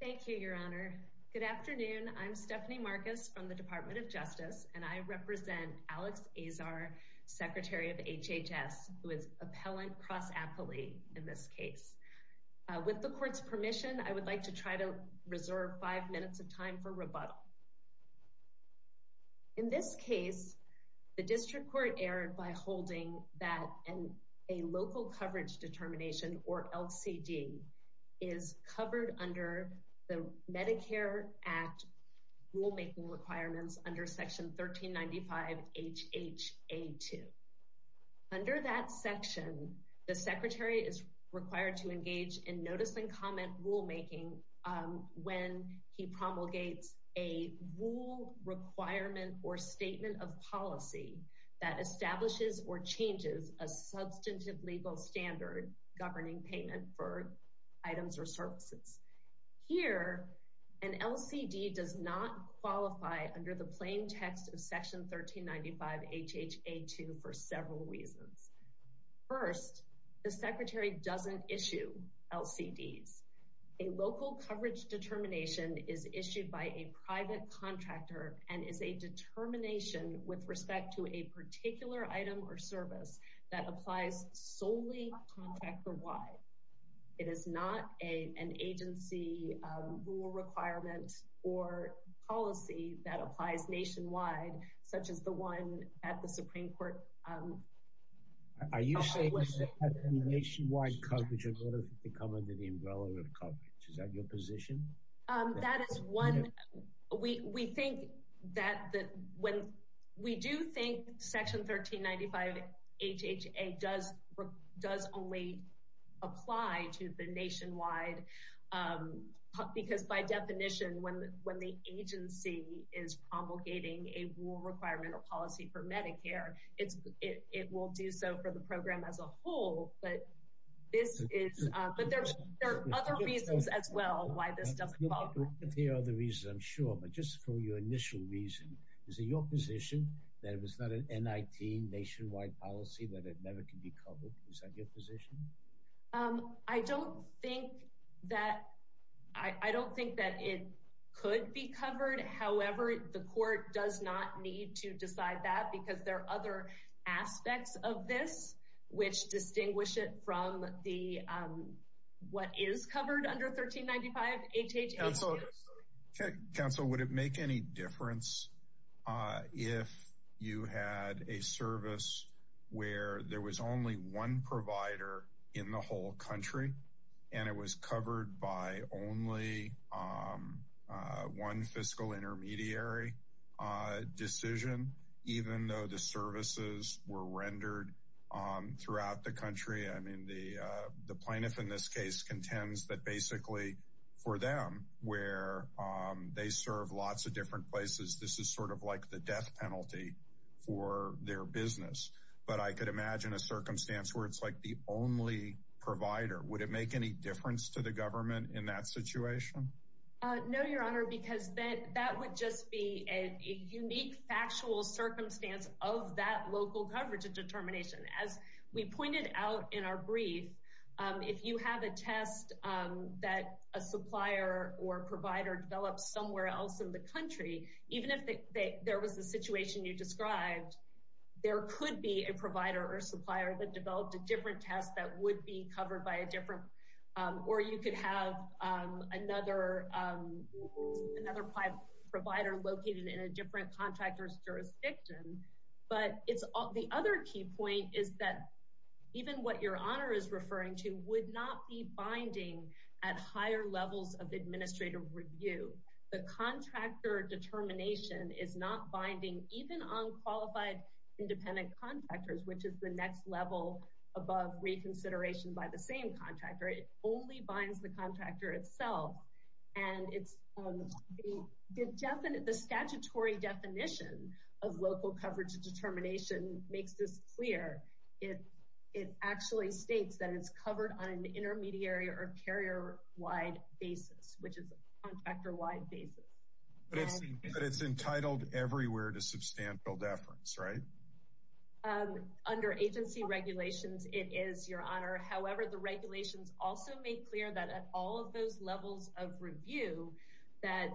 Thank you, Your Honor. Good afternoon. I'm Stephanie Marcus from the Department of Justice, and I represent Alex Azar, Secretary of HHS, who is appellant cross-appellee in this case. With the court's permission, I would like to try to reserve five minutes of time for rebuttal. In this case, the district court erred by holding that a Local Coverage Determination, or LCD, is covered under the Medicare Act rulemaking requirements under Section 1395 H.H.A. 2. Under that section, the Secretary is required to engage in notice-and-comment rulemaking when he promulgates a rule, requirement, or statement of policy that establishes or changes a substantive legal standard governing payment for items or services. Here, an LCD does not qualify under the plain text of Section 1395 H.H.A. 2 for several reasons. First, the Secretary doesn't issue LCDs. A Local Coverage Determination is issued by a private contractor and is a determination with respect to a particular item or service that applies solely contractor-wide. It is not an agency rule requirement or policy that applies nationwide, such as the one at the Supreme Court. Are you saying this is a nationwide coverage or would it have to come under the umbrella of coverage? Is that your position? That is one. We do think Section 1395 H.H.A. does only apply to the nationwide coverage because, by definition, when the agency is promulgating a rule, requirement, or policy for Medicare, it will do so for the program as a whole, but there are other reasons as well why this doesn't qualify. There are other reasons, I'm sure, but just for your initial reason, is it your position that it was not an NIT nationwide policy that it never could be covered? Is that your position? Um, I don't think that it could be covered. However, the court does not need to decide that because there are other aspects of this which distinguish it from what is covered under 1395 H.H.A. Council, would it make any difference if you had a service where there was only one provider in the whole country and it was covered by only one fiscal intermediary decision, even though the services were rendered throughout the country? I mean, the plaintiff in this case contends that basically, for them, where they serve lots of different places, this is sort of the death penalty for their business, but I could imagine a circumstance where it's like the only provider. Would it make any difference to the government in that situation? No, Your Honor, because that would just be a unique, factual circumstance of that local coverage determination. As we pointed out in our brief, if you have a test that a supplier or provider developed somewhere else in the country, even if there was the situation you described, there could be a provider or supplier that developed a different test that would be covered by a different, or you could have another provider located in a different contractor's jurisdiction. But the other key point is that even what Your Honor is referring to would not be review. The contractor determination is not binding even on qualified independent contractors, which is the next level above reconsideration by the same contractor. It only binds the contractor itself. And the statutory definition of local coverage determination makes this clear. It actually states that it's covered on an intermediary or carrier-wide basis, which is a contractor-wide basis. But it's entitled everywhere to substantial deference, right? Under agency regulations, it is, Your Honor. However, the regulations also make clear that at all of those levels of review, that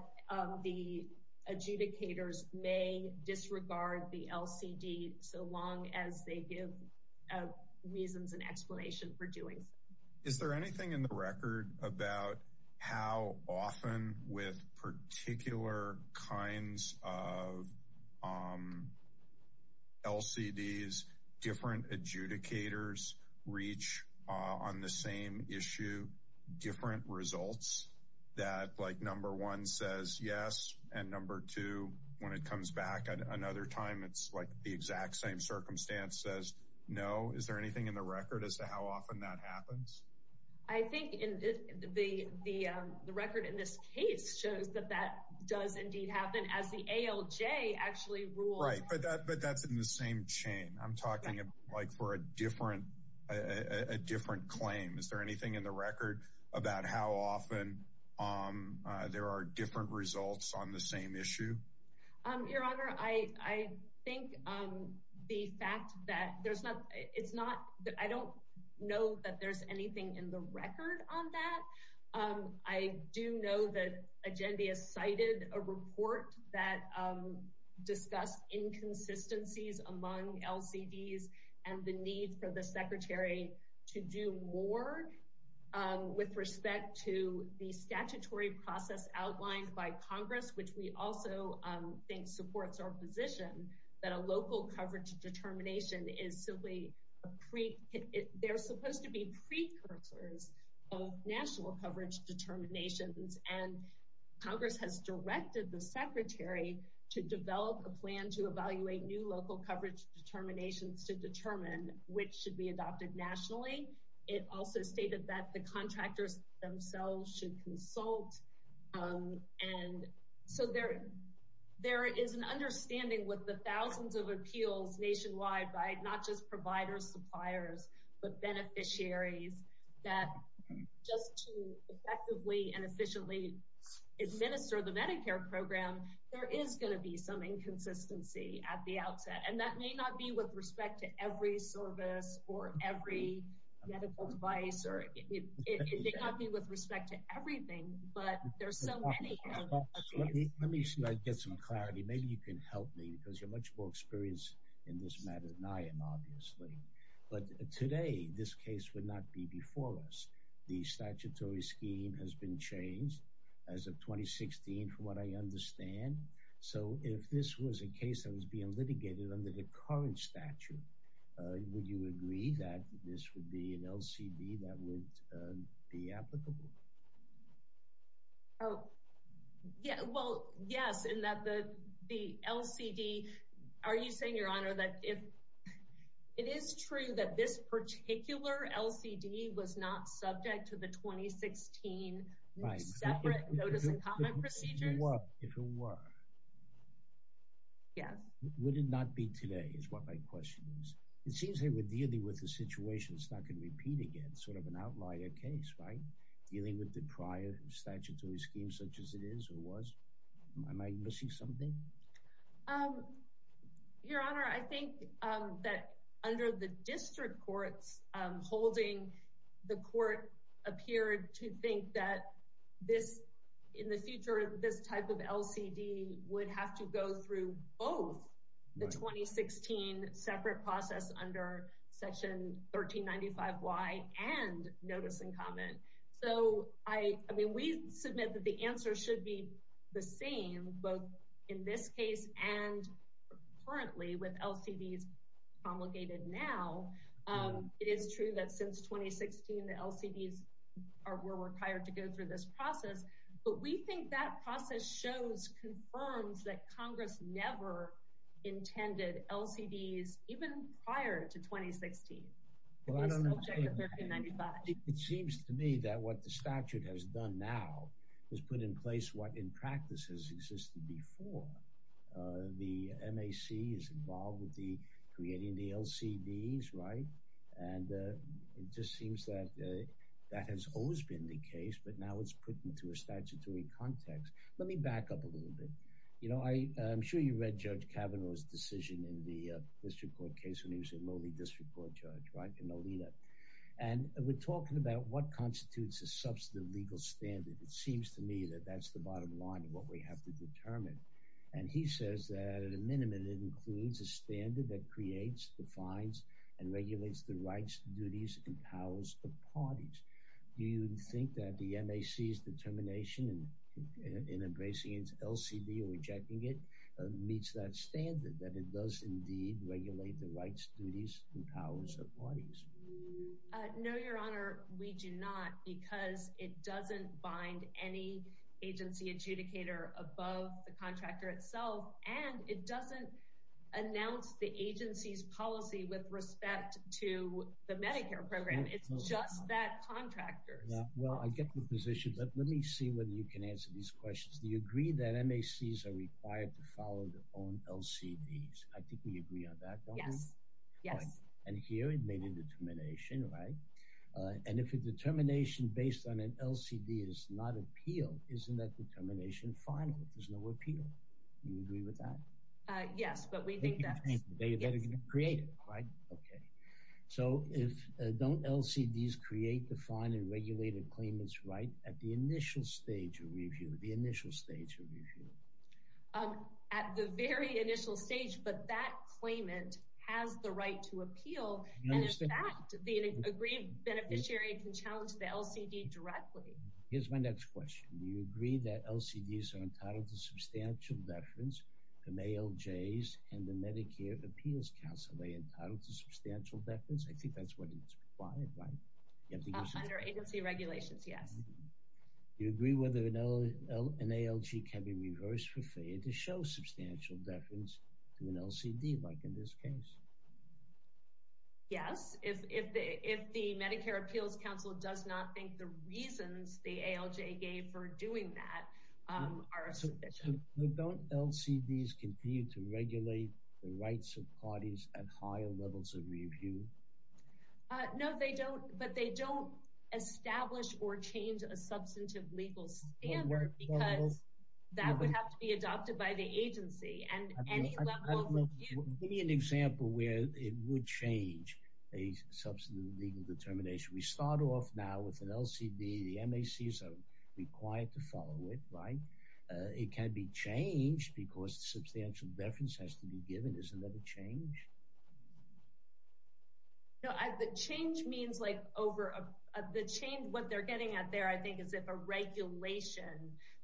the adjudicators may disregard the LCD so long as they give reasons and explanation for doing so. Is there anything in the record about how often with particular kinds of LCDs, different adjudicators reach on the same issue, different results that like number one says yes, and number two, when it comes back at another time, it's like the exact same circumstance says no. Is there anything in the record as to how often that happens? I think in the record in this case shows that that does indeed happen as the ALJ actually rules. Right. But that's in the same chain. I'm talking like for a different claim. Is there anything in the record about how often there are different results on the same issue? Your Honor, I think the fact that there's not it's not that I don't know that there's anything in the record on that. I do know that agenda cited a report that discussed inconsistencies among LCDs and the need for the secretary to do more with respect to the statutory process outlined by Congress, which we also think supports our position that a local coverage determination is simply a pre they're supposed to be precursors of national coverage determinations. And Congress has directed the secretary to develop a plan to evaluate new local coverage determinations to determine which should be adopted nationally. It also stated that the and so there there is an understanding with the thousands of appeals nationwide by not just providers, suppliers, but beneficiaries that just to effectively and efficiently administer the Medicare program, there is going to be some inconsistency at the outset. And that may not be with respect to every service or every medical device or it may not be with respect to but there's so many. Let me get some clarity. Maybe you can help me because you're much more experienced in this matter than I am, obviously. But today, this case would not be before us. The statutory scheme has been changed as of 2016, from what I understand. So if this was a case that was being litigated under the current statute, would you agree that this would be an LCD that would be applicable? Oh, yeah. Well, yes, in that the the LCD, are you saying your honor that if it is true that this particular LCD was not subject to the 2016 separate notice and comment procedures? Yes. Would it not be today is what my question is. It seems they were dealing with situations that could repeat again, sort of an outlier case, right? Dealing with the prior statutory schemes such as it is or was. Am I missing something? Your honor, I think that under the district courts holding the court appeared to think that this in the future, this type of LCD would have to go through both the 2016 separate process under Section 1395Y and notice and comment. So I mean, we submit that the answer should be the same, both in this case and currently with LCDs promulgated now. It is true that since 2016, the LCDs were required to go through this process, but we think that process shows, confirms that Congress never intended LCDs even prior to 2016. It seems to me that what the statute has done now has put in place what in practice has existed before. The MAC is involved with the creating the LCDs, right? And it just seems that that has always been the case, but now it's put into a statutory context. Let me back up a little bit. You know, I'm sure you read Judge Kavanaugh's decision in the district court case when he was a lowly district court judge, right? And we're talking about what constitutes a substantive legal standard. It seems to me that that's the bottom line of what we have to determine. And he says that at a minimum, it includes a standard that creates, defines, and regulates the rights, duties, and powers of parties. Do you think that the MAC's determination in embracing its LCD or rejecting it meets that standard, that it does indeed regulate the rights, duties, and powers of parties? No, Your Honor, we do not because it doesn't announce the agency's policy with respect to the Medicare program. It's just that contractors. Well, I get the position, but let me see whether you can answer these questions. Do you agree that MACs are required to follow their own LCDs? I think we agree on that, don't we? Yes, yes. And here it made a determination, right? And if a determination based on an LCD is not appealed, isn't that an appeal? Do you agree with that? Yes, but we think that's... They're going to create it, right? Okay. So if, don't LCDs create, define, and regulate a claimant's right at the initial stage of review, the initial stage of review? At the very initial stage, but that claimant has the right to appeal, and in fact, the agreed beneficiary can challenge the LCD directly. Here's my next question. Do you agree that LCDs are entitled to substantial deference from ALJs and the Medicare Appeals Council? Are they entitled to substantial deference? I think that's what it's required, right? Under agency regulations, yes. Do you agree whether an ALG can be reversed for failure to show substantial deference to an LCD, like in this case? Yes, if the Medicare Appeals Council does not think the reasons the ALJ gave for doing that are sufficient. So don't LCDs continue to regulate the rights of parties at higher levels of review? No, they don't, but they don't establish or change a substantive legal standard, because that would have to be adopted by the agency, and any level of review... Give me an example where it would change a substantive legal determination. We start off now with an LCD. The MACs are required to follow it, right? It can be changed because substantial deference has to be given. Isn't that a change? No, the change means like over a... The change, what they're getting at there, I think, is if a regulation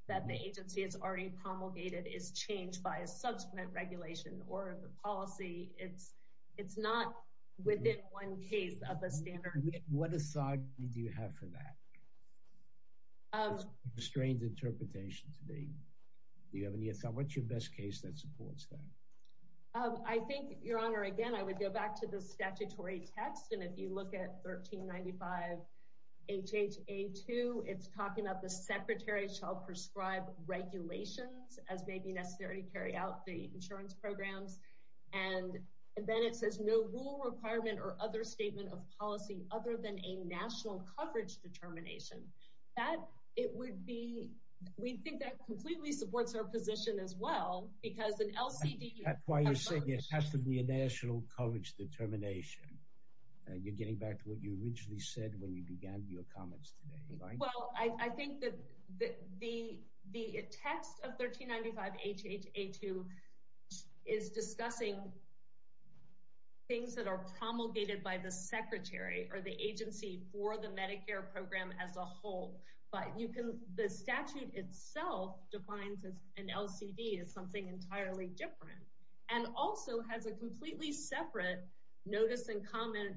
that the agency has already promulgated is changed by a subsequent regulation or the policy. It's not within one case of a standard. What aside do you have for that? It's a strange interpretation to me. Do you have any... What's your best case that supports that? I think, Your Honor, again, I would go back to the statutory text, and if you look at 1395 H.H.A. 2, it's talking about the secretary shall prescribe regulations as may be necessary to carry out the insurance programs, and then it says no rule requirement or other statement of policy other than a national coverage determination. That, it would be... We think that completely supports our position as well, because an LCD... That's why you said it has to be a national coverage determination. You're getting back to what you originally said when you began your H.H.A. 2 is discussing things that are promulgated by the secretary or the agency for the Medicare program as a whole, but you can... The statute itself defines an LCD as something entirely different and also has a completely separate notice and comment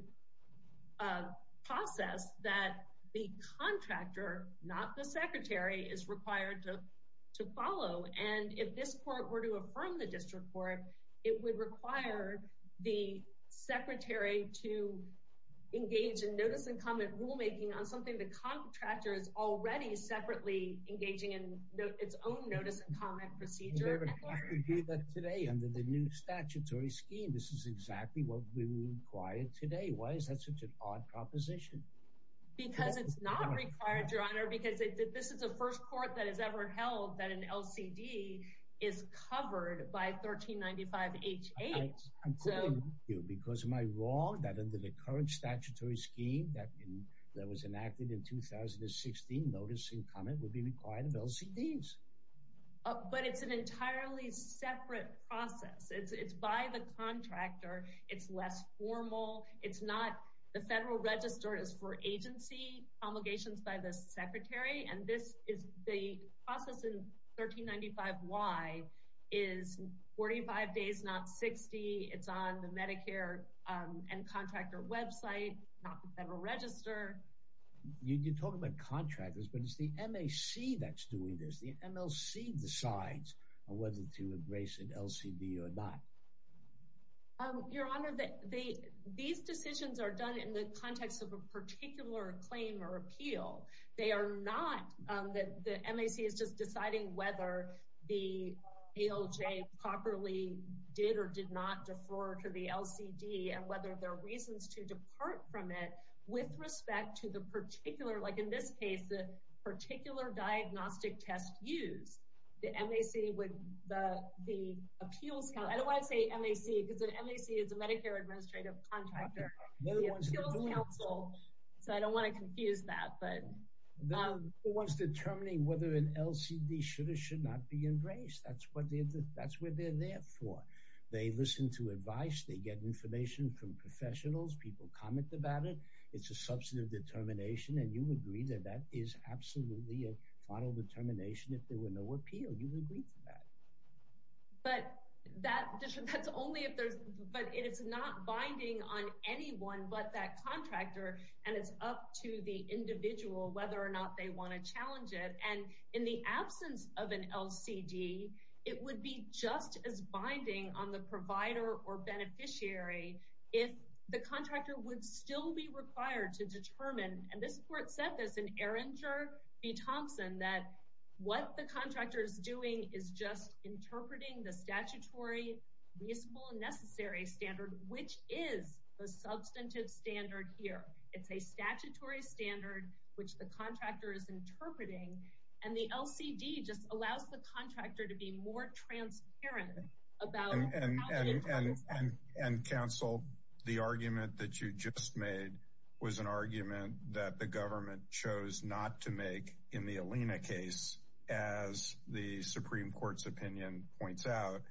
process that the contractor, not the secretary, is required to follow, and if this court were to affirm the district court, it would require the secretary to engage in notice and comment rulemaking on something the contractor is already separately engaging in its own notice and comment procedure. You never have to do that today under the new statutory scheme. This is exactly what we require today. Why is that such an odd proposition? Because it's not required, your honor, because this is the first court that has ever held that an LCD is covered by 1395 H.H. I'm quoting you because am I wrong that under the current statutory scheme that was enacted in 2016, notice and comment would be required of LCDs? But it's an entirely separate process. It's by the contractor. It's less formal. It's not... The federal register is for agency promulgations by the secretary, and this is the process in 1395 Y is 45 days, not 60. It's on the Medicare and contractor website, not the federal register. You talk about contractors, but it's the M.A.C. that's doing this. The M.L.C. decides on whether to embrace an LCD or not. Your honor, these decisions are done in the context of a particular claim or appeal. They are not... The M.A.C. is just deciding whether the ALJ properly did or did not defer to the LCD and whether there are reasons to depart from it with respect to the particular, like in this case, the particular diagnostic test used. The M.A.C. would... The appeals... I don't want to say M.A.C. because the M.A.C. is the Medicare Administrative Contractor. The appeals counsel, so I don't want to confuse that, but... They're the ones determining whether an LCD should or should not be embraced. That's what they're there for. They listen to advice. They get information from professionals. People comment about it. It's a substantive determination, and you agree that that is absolutely a final determination if there were no appeal. You would agree to that. But that's only if there's... But it is not binding on anyone but that contractor, and it's up to the individual whether or not they want to challenge it. And in the absence of an LCD, it would be just as binding on the provider or beneficiary if the contractor would still be required to determine, and this court said this in Erringer v. Thompson, that what the contractor is doing is just interpreting the statutory reasonable and necessary standard, which is the substantive standard here. It's a statutory standard, which the contractor is interpreting, and the LCD just allows the contractor to be more transparent about... And counsel, the argument that you just made was an argument that the government chose not to make in the Alina case, as the Supreme Court's opinion points out,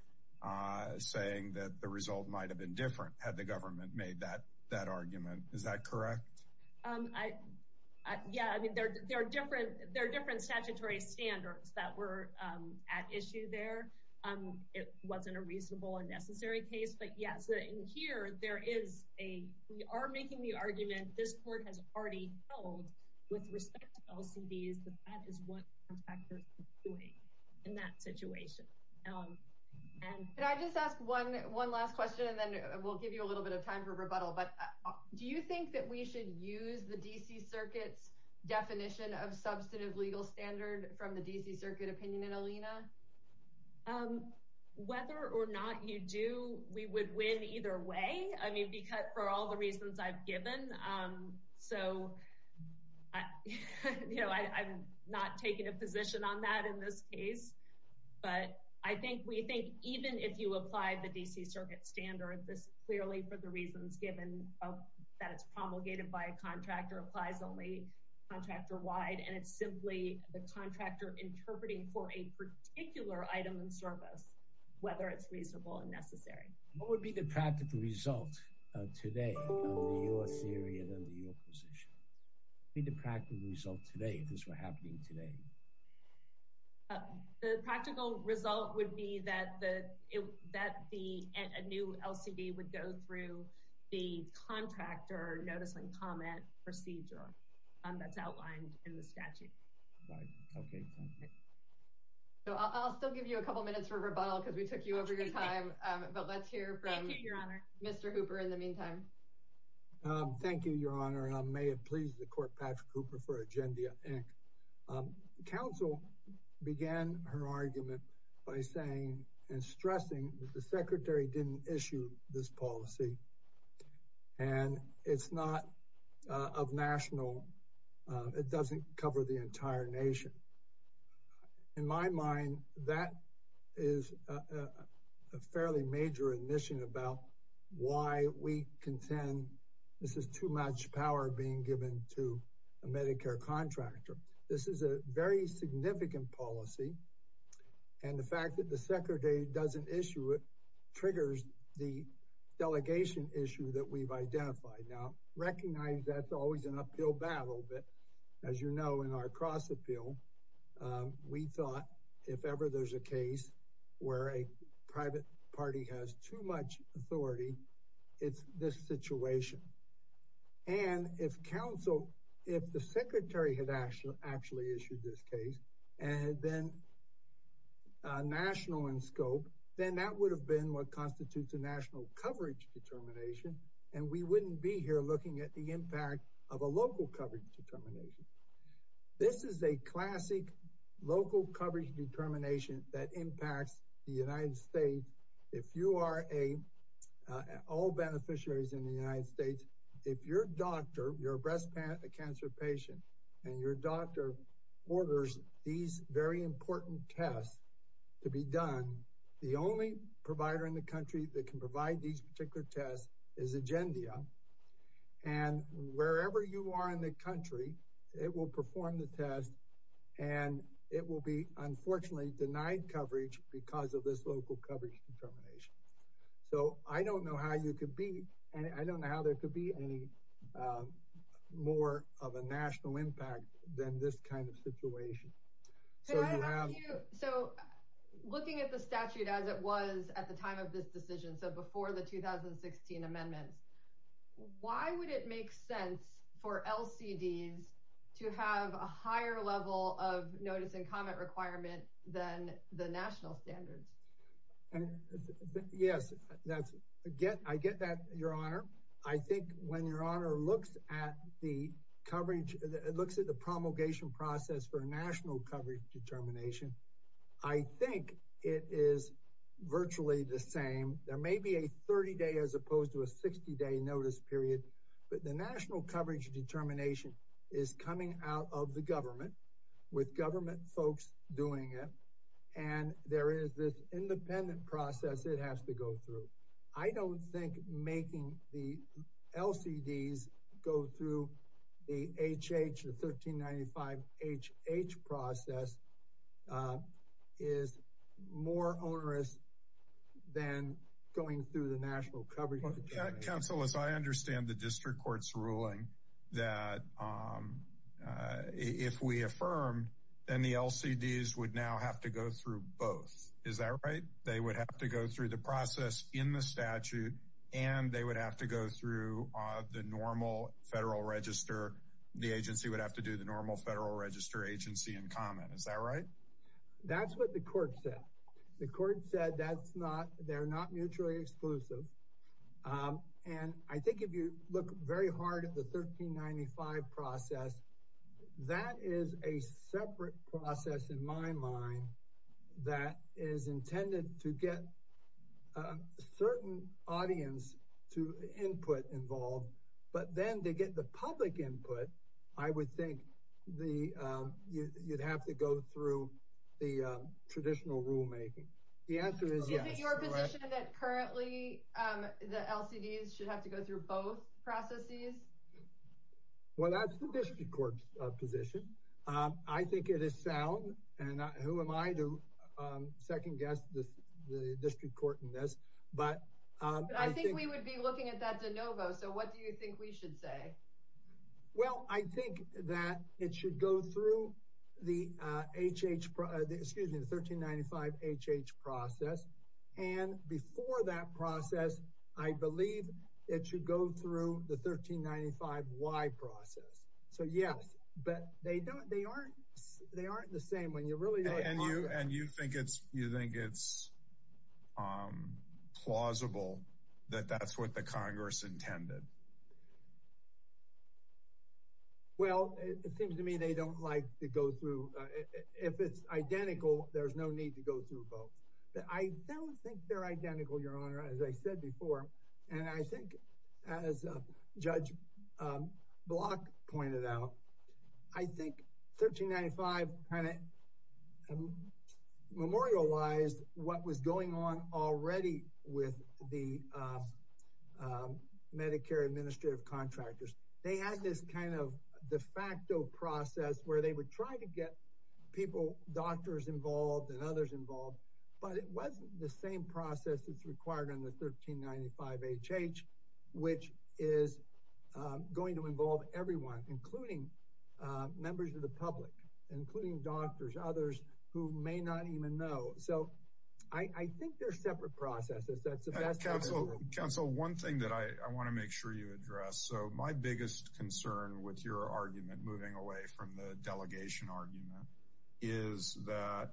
saying that the result might have been different had the government made that argument. Is that correct? Yeah, I mean, there are different statutory standards that were at issue there. It wasn't a reasonable and necessary case, but yes, in here, there is a... We are making the argument this court has already held with respect to LCDs that that is what the contractor is doing in that situation. And... Could I just ask one last question, and then we'll give you a little bit of time for rebuttal, but do you think that we should use the D.C. Circuit's definition of substantive legal standard from the D.C. Circuit opinion in Alina? Whether or not you do, we would win either way, I mean, for all the reasons I've given. So, you know, I'm not taking a position on that in this case, but I think we think even if you apply the D.C. Circuit standard, this clearly, for the reasons given, that it's promulgated by a contractor, applies only contractor-wide, and it's simply the contractor interpreting for a particular item in service, whether it's reasonable and necessary. What would be the practical result today of your theory and your position? What would be the practical result today if this were happening today? The practical result would be that a new LCD would go through the contractor notice and comment procedure that's outlined in the statute. So, I'll still give you a couple minutes for rebuttal because we took you over your time, but let's hear from Mr. Hooper in the meantime. Thank you, Your Honor, and may it please the Court, Patrick Hooper for Agendia, Inc. Counsel began her argument by saying and stressing that the Secretary didn't issue this policy, and it's not of national, it doesn't cover the entire nation. In my mind, that is a fairly major admission about why we contend this is too much power being given to a Medicare contractor. This is a very significant policy, and the fact that the Secretary doesn't issue it triggers the delegation issue that we've identified. Now, recognize that's always an appeal battle, but as you know in our cross-appeal, we thought if ever there's a case where a private party has too much authority, it's this situation. And if counsel, if the Secretary had actually issued this case, and then national in scope, then that would have been what constitutes a national coverage determination, and we wouldn't be here looking at the impact of a local coverage determination. This is a classic local coverage determination that impacts the United States. If you are a, all beneficiaries in the United States, if your doctor, your breast cancer patient, and your doctor orders these very important tests to be done, the only provider in the country that can provide these particular tests is Agendia. And wherever you are in the country, it will perform the test, and it will be unfortunately denied coverage because of this local coverage determination. So I don't know how you could be, and I don't know how there could be any more of a national impact than this kind of situation. So you have- So looking at the statute as it was at the time of this decision, so before the 2016 amendments, why would it make sense for LCDs to have a higher level of notice and comment requirement than the national standards? Yes, that's, I get that, Your Honor. I think when Your Honor looks at the coverage, looks at the promulgation process for a national coverage determination, I think it is virtually the same. There may be a 30-day as opposed to a 60-day notice period, but the national coverage determination is coming out of the government with government folks doing it, and there is this independent process it has to go through. I don't think making the LCDs go through the HH, the 1395HH process is more onerous than going through the national coverage. Counsel, as I understand the district court's ruling that if we affirmed, then the LCDs would now have to go through both. Is that right? They would have to go through the process in the register. The agency would have to do the normal federal register agency and comment. Is that right? That's what the court said. The court said that's not, they're not mutually exclusive, and I think if you look very hard at the 1395 process, that is a separate process in my mind that is intended to get a certain audience to input involved, but then to get the public input, I would think you'd have to go through the traditional rulemaking. The answer is yes. Is it your position that currently the LCDs should have to go through both processes? Well, that's the district court's position. I think it is sound, and who am I to second guess the district court in this, but I think we would be looking at that de novo, so what do you think we should say? Well, I think that it should go through the HH, excuse me, the 1395HH process, and before that process, I believe it should go through the 1395Y process, so yes, but they don't, they aren't, they aren't the same when you really look at it. And you think it's, you think it's plausible that that's what the Congress intended? Well, it seems to me they don't like to go through, if it's identical, there's no need to go through both, but I don't think they're identical, your honor, as I said before, and I think as Judge Block pointed out, I think 1395 kind of memorialized what was going on already with the Medicare administrative contractors. They had this kind of de facto process where they would try to get people, doctors involved and others involved, but it wasn't the same process that's required in the 1395HH, which is going to involve everyone, including members of the public, including doctors, others who may not even know. So I think they're separate processes. That's the best I can do. Counsel, one thing that I want to make sure you address, so my biggest concern with your argument moving away from the delegation argument, is that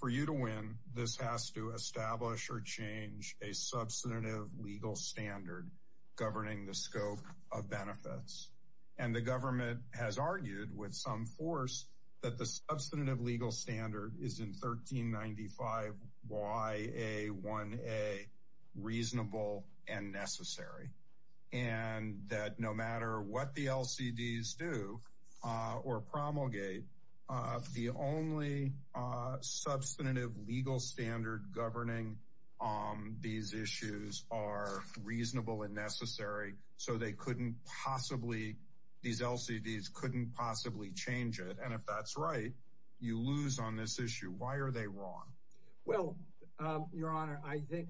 for you to win, this has to establish or change a substantive legal standard governing the scope of benefits. And the government has argued with some force that the substantive legal standard is in 1395YA1A reasonable and necessary. And that no matter what the LCDs do or promulgate, the only substantive legal standard governing these issues are reasonable and necessary. So they couldn't possibly, these LCDs couldn't possibly change it. And if that's right, you lose on this issue. Why are they wrong? Well, Your Honor, I think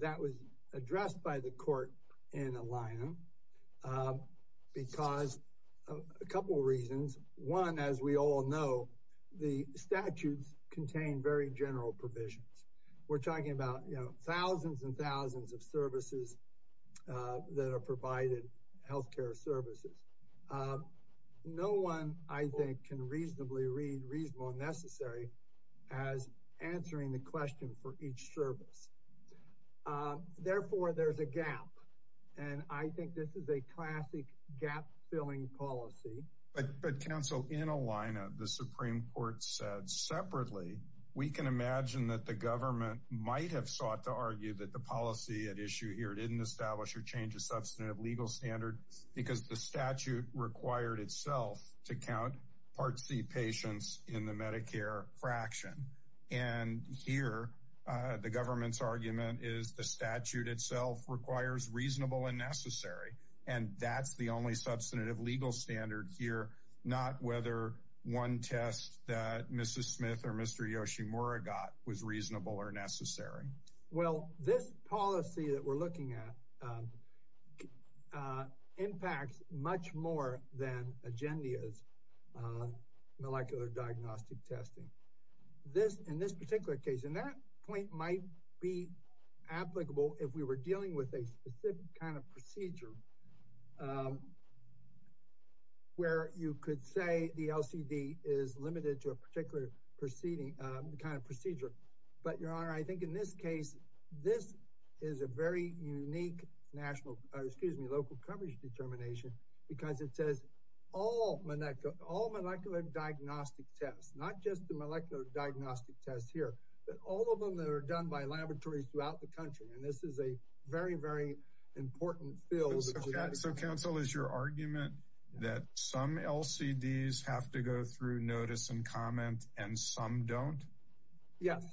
that was addressed by the court in Alignum because a couple of reasons. One, as we all know, the statutes contain very general provisions. We're talking about thousands and thousands of services that are provided, health care services. No one, I think, can reasonably read reasonable and necessary as answering the question for each service. Therefore, there's a gap. And I think this is a classic gap-filling policy. But, Counsel, in Alignum, the Supreme Court said separately, we can imagine that the government might have sought to argue that the policy at issue here didn't establish or change a required itself to count Part C patients in the Medicare fraction. And here, the government's argument is the statute itself requires reasonable and necessary. And that's the only substantive legal standard here, not whether one test that Mrs. Smith or Mr. Yoshimura got was reasonable or necessary. Well, this policy that we're looking at impacts much more than Agendia's molecular diagnostic testing. In this particular case, and that point might be applicable if we were dealing with a specific kind of procedure where you could say the LCD is limited to a particular kind of procedure. But, Your Honor, I think in this case, this is a very unique national, excuse me, local coverage determination because it says all molecular diagnostic tests, not just the molecular diagnostic tests here, but all of them that are done by laboratories throughout the country. And this is a very, important field. So counsel is your argument that some LCDs have to go through notice and comment and some don't? Yes,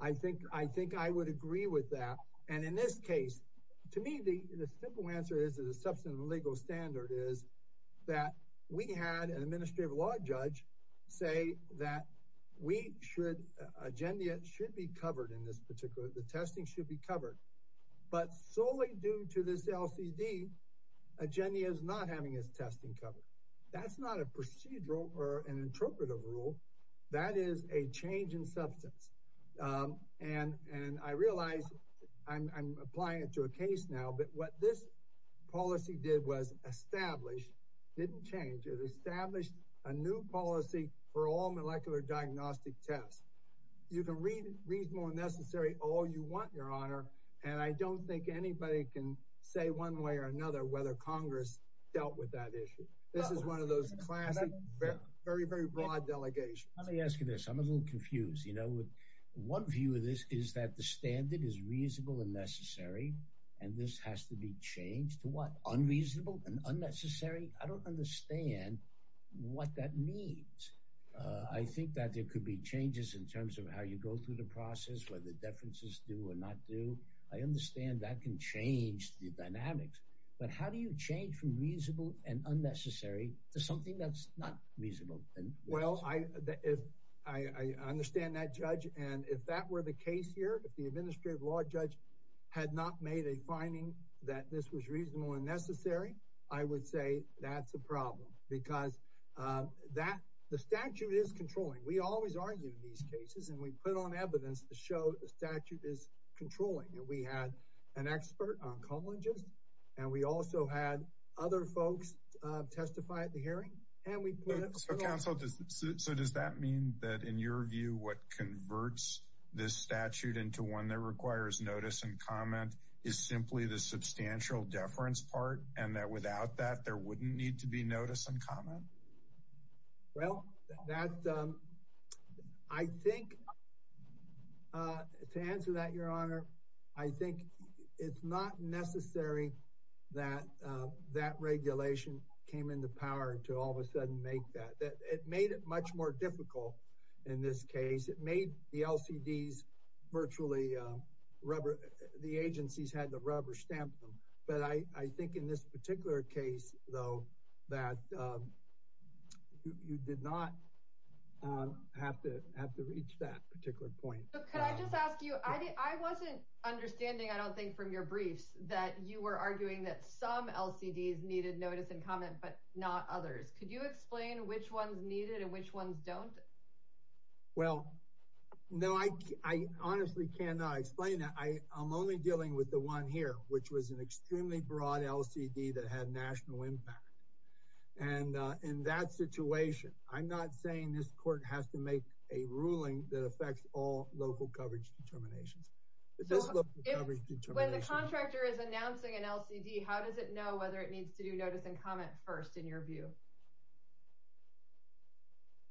I think I think I would agree with that. And in this case, to me, the simple answer is that a substantive legal standard is that we had an administrative law judge say that we should, Agendia should be covered in this particular, the testing should be covered. But solely due to this LCD, Agendia is not having its testing covered. That's not a procedural or an interpretive rule. That is a change in substance. And I realize I'm applying it to a case now, but what this policy did was establish, didn't change, it established a new policy for all molecular diagnostic tests. You can read reasonable and necessary all you want, your honor. And I don't think anybody can say one way or another whether Congress dealt with that issue. This is one of those classic, very, very broad delegation. Let me ask you this. I'm a little confused, you know, with one view of this is that the standard is reasonable and necessary. And this has to be changed to what unreasonable and unnecessary. I don't understand what that means. I think that there could be changes in terms of how you go through the process, whether the differences do or not do. I understand that can change the dynamics. But how do you change from reasonable and unnecessary to something that's not reasonable? Well, I, if I understand that judge and if that were the case here, if the administrative law judge had not made a finding that this was reasonable and necessary, I would say that's because that the statute is controlling. We always argue these cases and we put on evidence to show the statute is controlling. And we had an expert on colleges and we also had other folks testify at the hearing. And we put it on. So does that mean that in your view, what converts this statute into one that requires notice and comment is simply the substantial deference part and that without that, there wouldn't need to be notice and comment? Well, that I think to answer that, your honor, I think it's not necessary that that regulation came into power to all of a sudden make that it made it much more difficult. In this case, it made the LCDs virtually rubber. The agencies had the rubber stamp them. But I think in this particular case, though, that you did not have to have to reach that particular point. Can I just ask you, I wasn't understanding. I don't think from your briefs that you were arguing that some LCDs needed notice and comment, but not others. Could you explain which ones needed and which ones don't? Well, no, I honestly cannot explain that. I'm only dealing with the one here, which was an extremely broad LCD that had national impact. And in that situation, I'm not saying this court has to make a ruling that affects all local coverage determinations. When the contractor is announcing an LCD, how does it know whether it needs to do notice and comment first in your view?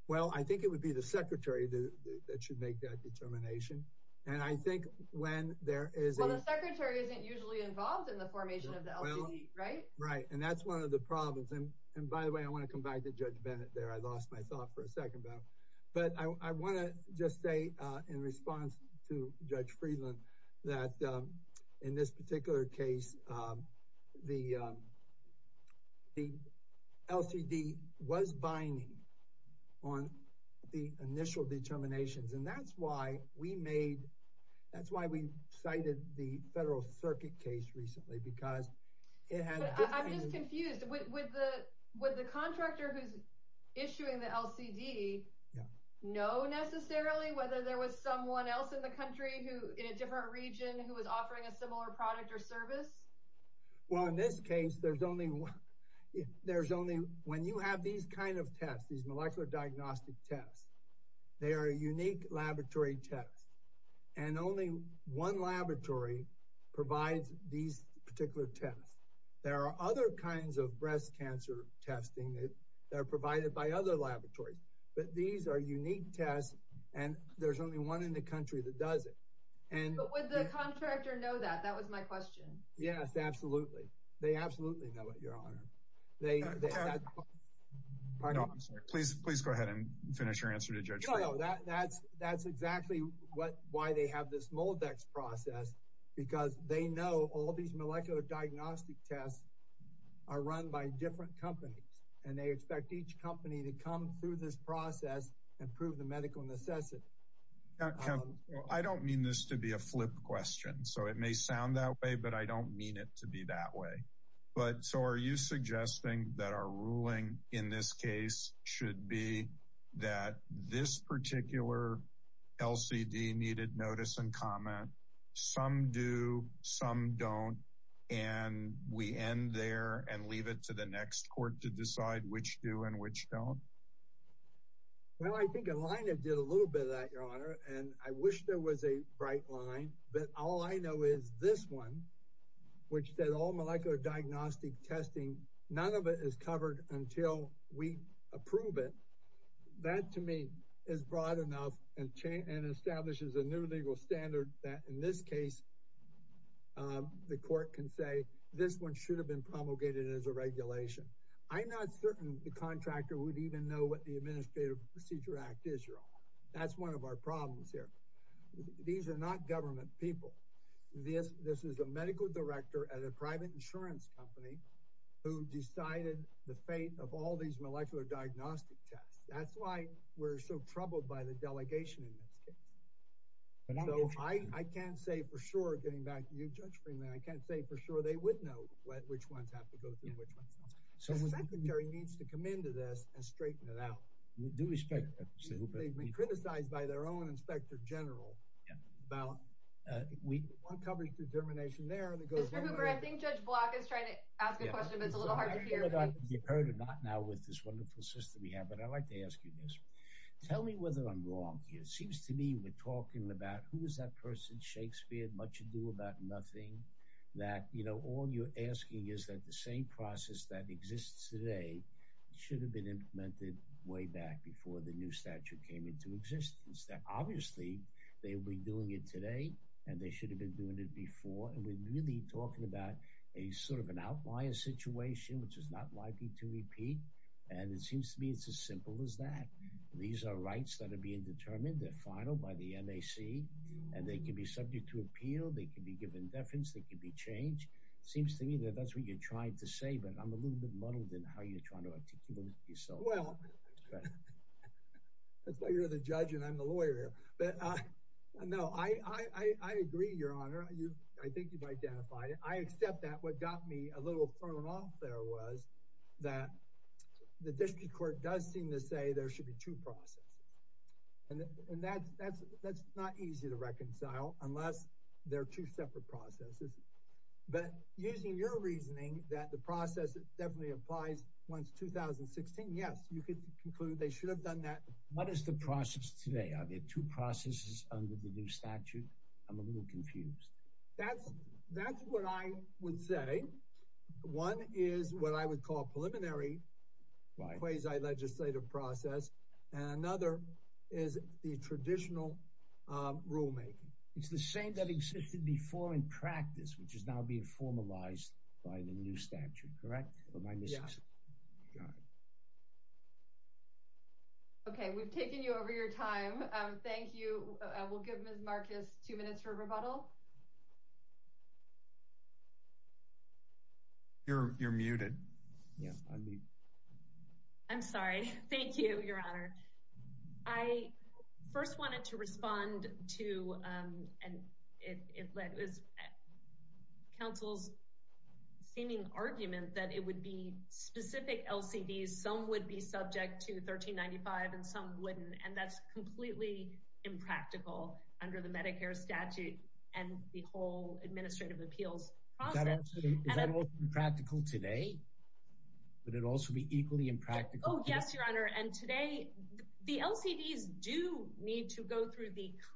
Well, I think it would be the secretary that should make that determination. And I think when there is a secretary isn't usually involved in the formation of the LCD, right? Right. And that's one of the problems. And by the way, I want to come back to Judge Bennett there. I lost my thought for a second. But I want to just say in response to Judge Friedland, that in this particular case, the LCD was binding on the initial determinations. And that's why we made, that's why we cited the Federal Circuit case recently, because it had... I'm just confused. Would the contractor who's issuing the LCD know necessarily whether there was someone else in the country, in a different region who was offering a similar product or service? Well, in this case, there's only... When you have these kind of tests, these molecular diagnostic tests, they are a unique laboratory test. And only one laboratory provides these particular tests. There are other kinds of breast cancer testing that are provided by other laboratories. But these are unique tests, and there's only one in the country that does it. But would the contractor know that? That was my question. Yes, absolutely. They absolutely know it, Your Honor. Please go ahead and finish your answer to Judge Friedland. That's exactly why they have this Moldex process, because they know all these molecular diagnostic tests are run by different companies. And they expect each company to come through this process and prove the medical necessity. I don't mean this to be a flip question. So it may sound that way, but I don't mean it to be that way. But so are you suggesting that our ruling in this case should be that this particular LCD needed notice and comment? Some do, some don't. And we end there and leave it to the next court to decide which do and which don't? Well, I think Alina did a little bit of that, Your Honor. And I wish there was a bright line. But all I know is this one, which said all molecular diagnostic testing, none of it is covered until we approve it. That to me is broad enough and establishes a new legal standard that in this case, the court can say this one should have been promulgated as a regulation. I'm not certain the contractor would even know what the Administrative Procedure Act is, Your Honor. That's one of our problems here. These are not government people. This is a medical director at a private insurance company who decided the fate of all these molecular diagnostic tests. That's why we're so troubled by the delegation in this case. So I can't say for sure, getting back to you, Judge Freeman, I can't say for sure they would know which ones have to go through which ones don't. The Secretary needs to come into this and straighten it out. They've been criticized by their own Inspector General about uncovering determination there. Mr. Hoover, I think Judge Block is trying to ask a question, but it's a little hard to hear. I'm not sure if you've heard or not now with this wonderful system we have, but I'd like to ask you this. Tell me whether I'm wrong here. It seems to me we're talking about who is that person, Shakespeare, much ado about nothing, that, you know, all you're asking is that the same process that exists today should have been implemented way back before the new statute came into existence. Obviously, they will be doing it today, and they should have been doing it before, and we're really talking about a sort of an outlier situation, which is not likely to repeat. And it seems to me it's as simple as that. These are rights that are being determined. They're final by the NAC, and they can be subject to appeal. They can be given deference. They can be changed. Seems to me that that's what you're trying to say, but I'm a little bit muddled in how you're trying to articulate yourself. Well, that's why you're the judge, and I'm the lawyer. But no, I agree, Your Honor. I think you've identified it. I accept that. What got me a little thrown off there was that the district court does seem to say there should be two processes, and that's not easy to reconcile unless there are two separate processes. But using your reasoning that the process definitely applies once 2016, yes, you could conclude they should have done that. What is the process today? Are there two processes under the new statute? I'm a little confused. That's what I would say. One is what I would call preliminary quasi-legislative process, and another is the traditional rulemaking. It's the same that existed before in practice, which is now being formalized by the new statute, correct? Okay, we've taken you over your time. Thank you. We'll give Ms. Marcus two minutes for rebuttal. You're muted. I'm sorry. Thank you, Your Honor. I first wanted to respond to and it was counsel's seeming argument that it would be specific LCDs. Some would be subject to 1395, and some wouldn't, and that's completely impractical under the Medicare statute and the whole administrative appeals process. Is that also impractical today? Would it also be equally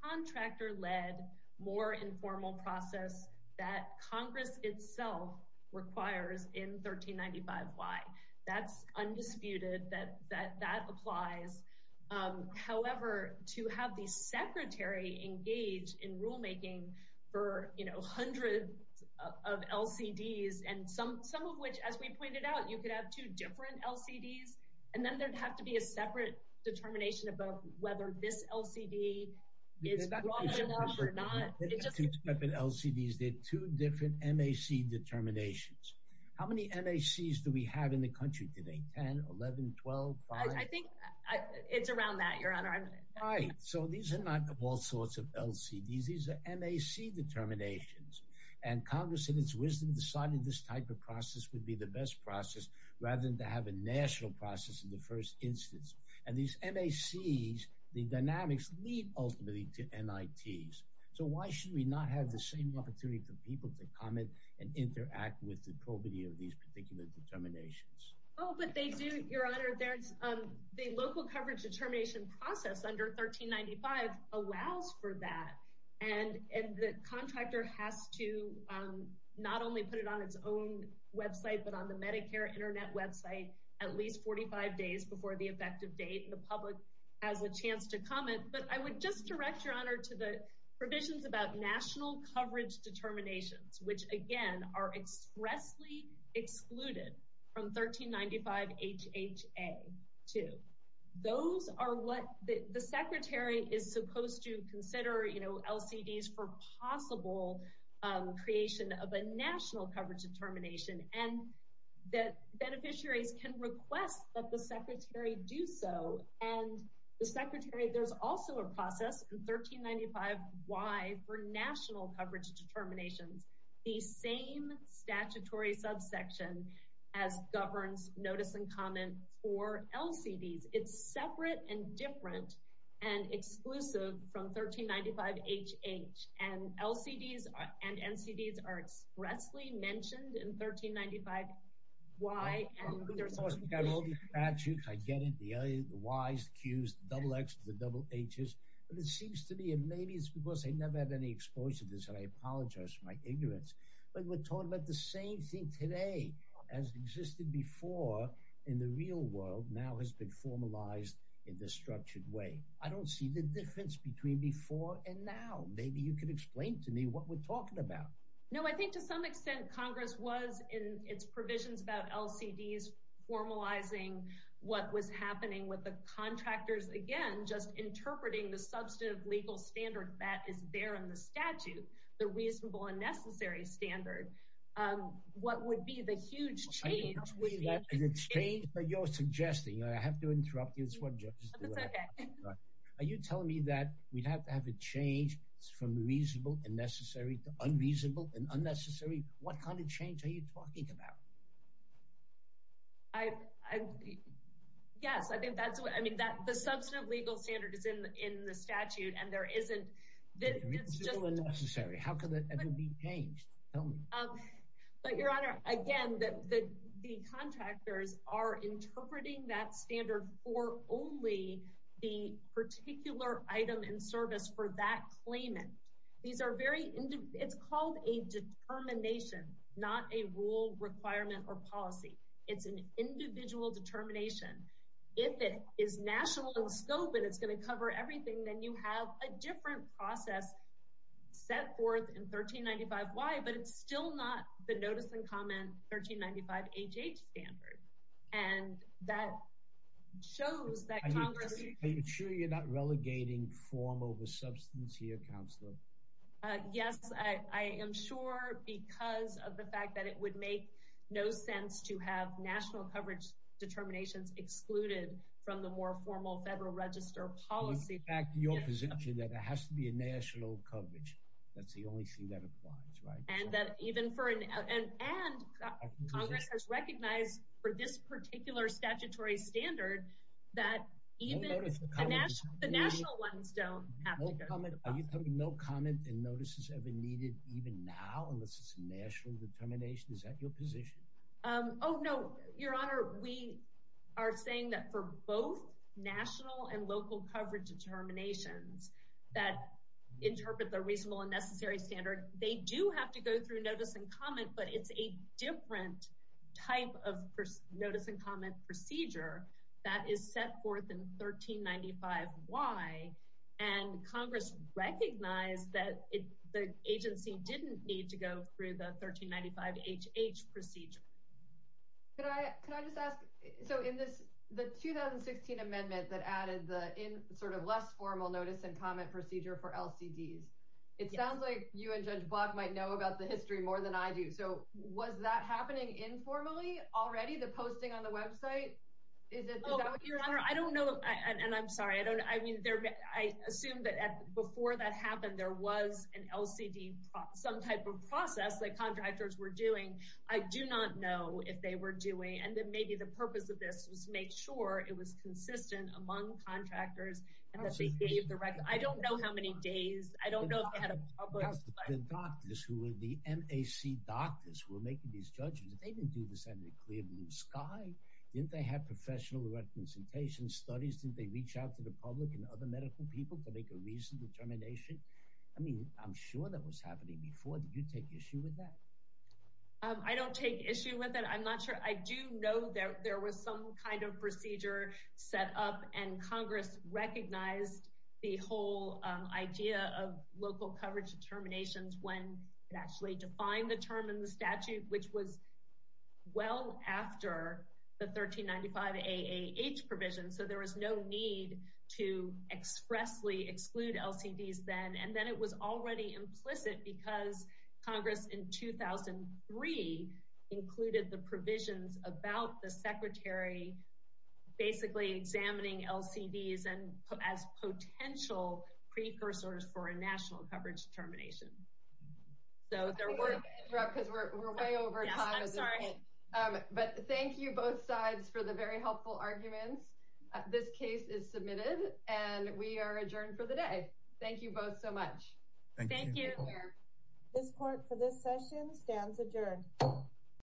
contractor-led, more informal process that Congress itself requires in 1395? Why? That's undisputed that that applies. However, to have the Secretary engage in rulemaking for hundreds of LCDs and some of which, as we pointed out, you could have two different LCDs, and then there'd have to be a separate determination about whether this LCD is wrong or not. Two separate LCDs, there are two different MAC determinations. How many MACs do we have in the country today? 10, 11, 12, 5? I think it's around that, Your Honor. Right, so these are not all sorts of LCDs. These are MAC determinations, and Congress, in its wisdom, decided this type of process would be the best process rather than to have a national process in the first instance. And these MACs, the dynamics lead ultimately to NITs. So why should we not have the same opportunity for people to comment and interact with the probity of these particular determinations? Oh, but they do, Your Honor. The local coverage determination process under 1395 allows for that. And the contractor has to not only put it on its own website, but on the Medicare internet website at least 45 days before the effective date. And the public has a chance to comment. But I would just direct, Your Honor, to the provisions about national coverage determinations, which again are expressly excluded from 1395 HHA 2. Those are what the secretary is supposed to consider, you know, LCDs for possible creation of a national coverage determination. And the beneficiaries can request that the secretary do so. And the secretary, there's also a process in 1395Y for national coverage determinations, the same statutory subsection as governs notice and comment for LCDs. It's separate and different and 1395Y. I get it, the Ys, the Qs, the double Xs, the double Hs. But it seems to me, and maybe it's because I never had any exposure to this, and I apologize for my ignorance. But we're talking about the same thing today as existed before in the real world now has been formalized in this structured way. I don't see the difference between before and now. Maybe you can explain to me what we're talking about. No, I think to some extent, Congress was in its provisions about LCDs formalizing what was happening with the contractors, again, just interpreting the substantive legal standard that is there in the statute, the reasonable and necessary standard. What would be the huge change? Is it a change that you're suggesting? I have to interrupt you. That's what judges do. Are you telling me that we'd have to have a change from reasonable and necessary to unreasonable and unnecessary? What kind of change are you talking about? Yes, I think that's what I mean, that the substantive legal standard is in in the statute, and there isn't. Reasonable and necessary, how could that ever be changed? But, Your Honor, again, the contractors are interpreting that standard for only the particular item in service for that claimant. It's called a determination, not a rule, requirement, or policy. It's an individual determination. If it is national in scope and it's going to cover everything, then you have a different process set forth in 1395Y, but it's still not the notice and comment 1395HH standard, and that shows that Congress Are you sure you're not relegating form over substance here, Counselor? Yes, I am sure because of the fact that it would make no sense to have national coverage determinations excluded from the more formal Federal Register policy. Your position is that it has to be a national coverage. That's the only thing that applies, right? And that even for, and Congress has recognized for this particular statutory standard that even the national ones don't have to go through the process. Are you telling me no comment and notice is ever needed even now unless it's a national determination? Is that your position? Oh no, Your Honor, we are saying that for both national and local coverage determinations that interpret the reasonable and necessary standard, they do have to go through notice and comment, but it's a different type of notice and comment procedure that is set forth in 1395Y and Congress recognized that the agency didn't need to go through the 1395HH procedure. Could I just ask, so in this, the 2016 amendment that added the in sort of less formal notice and comment procedure for LCDs, it sounds like you and Judge Block might know about the history more than I do. So was that happening informally already, the posting on I assume that before that happened, there was an LCD, some type of process that contractors were doing. I do not know if they were doing, and then maybe the purpose of this was to make sure it was consistent among contractors and that they gave the record. I don't know how many days, I don't know if they had a public. The doctors who were the MAC doctors were making these judgments. They didn't do this under the clear blue sky. Didn't they have professional representation studies? Didn't they reach out to the public and other medical people to make a reasonable determination? I mean, I'm sure that was happening before. Did you take issue with that? I don't take issue with it. I'm not sure. I do know that there was some kind of procedure set up and Congress recognized the whole idea of local coverage determinations when it actually defined the term in the statute, which was well after the 1395AAH provision. So there was no need to expressly exclude LCDs then. And then it was already implicit because Congress in 2003 included the provisions about the secretary basically examining LCDs as potential precursors for a national coverage determination. So there were. I'm going to interrupt because we're way over time. Yes, I'm sorry. But thank you both sides for the very helpful arguments. This case is submitted and we are adjourned for the day. Thank you both so much. Thank you. This court for this session stands adjourned.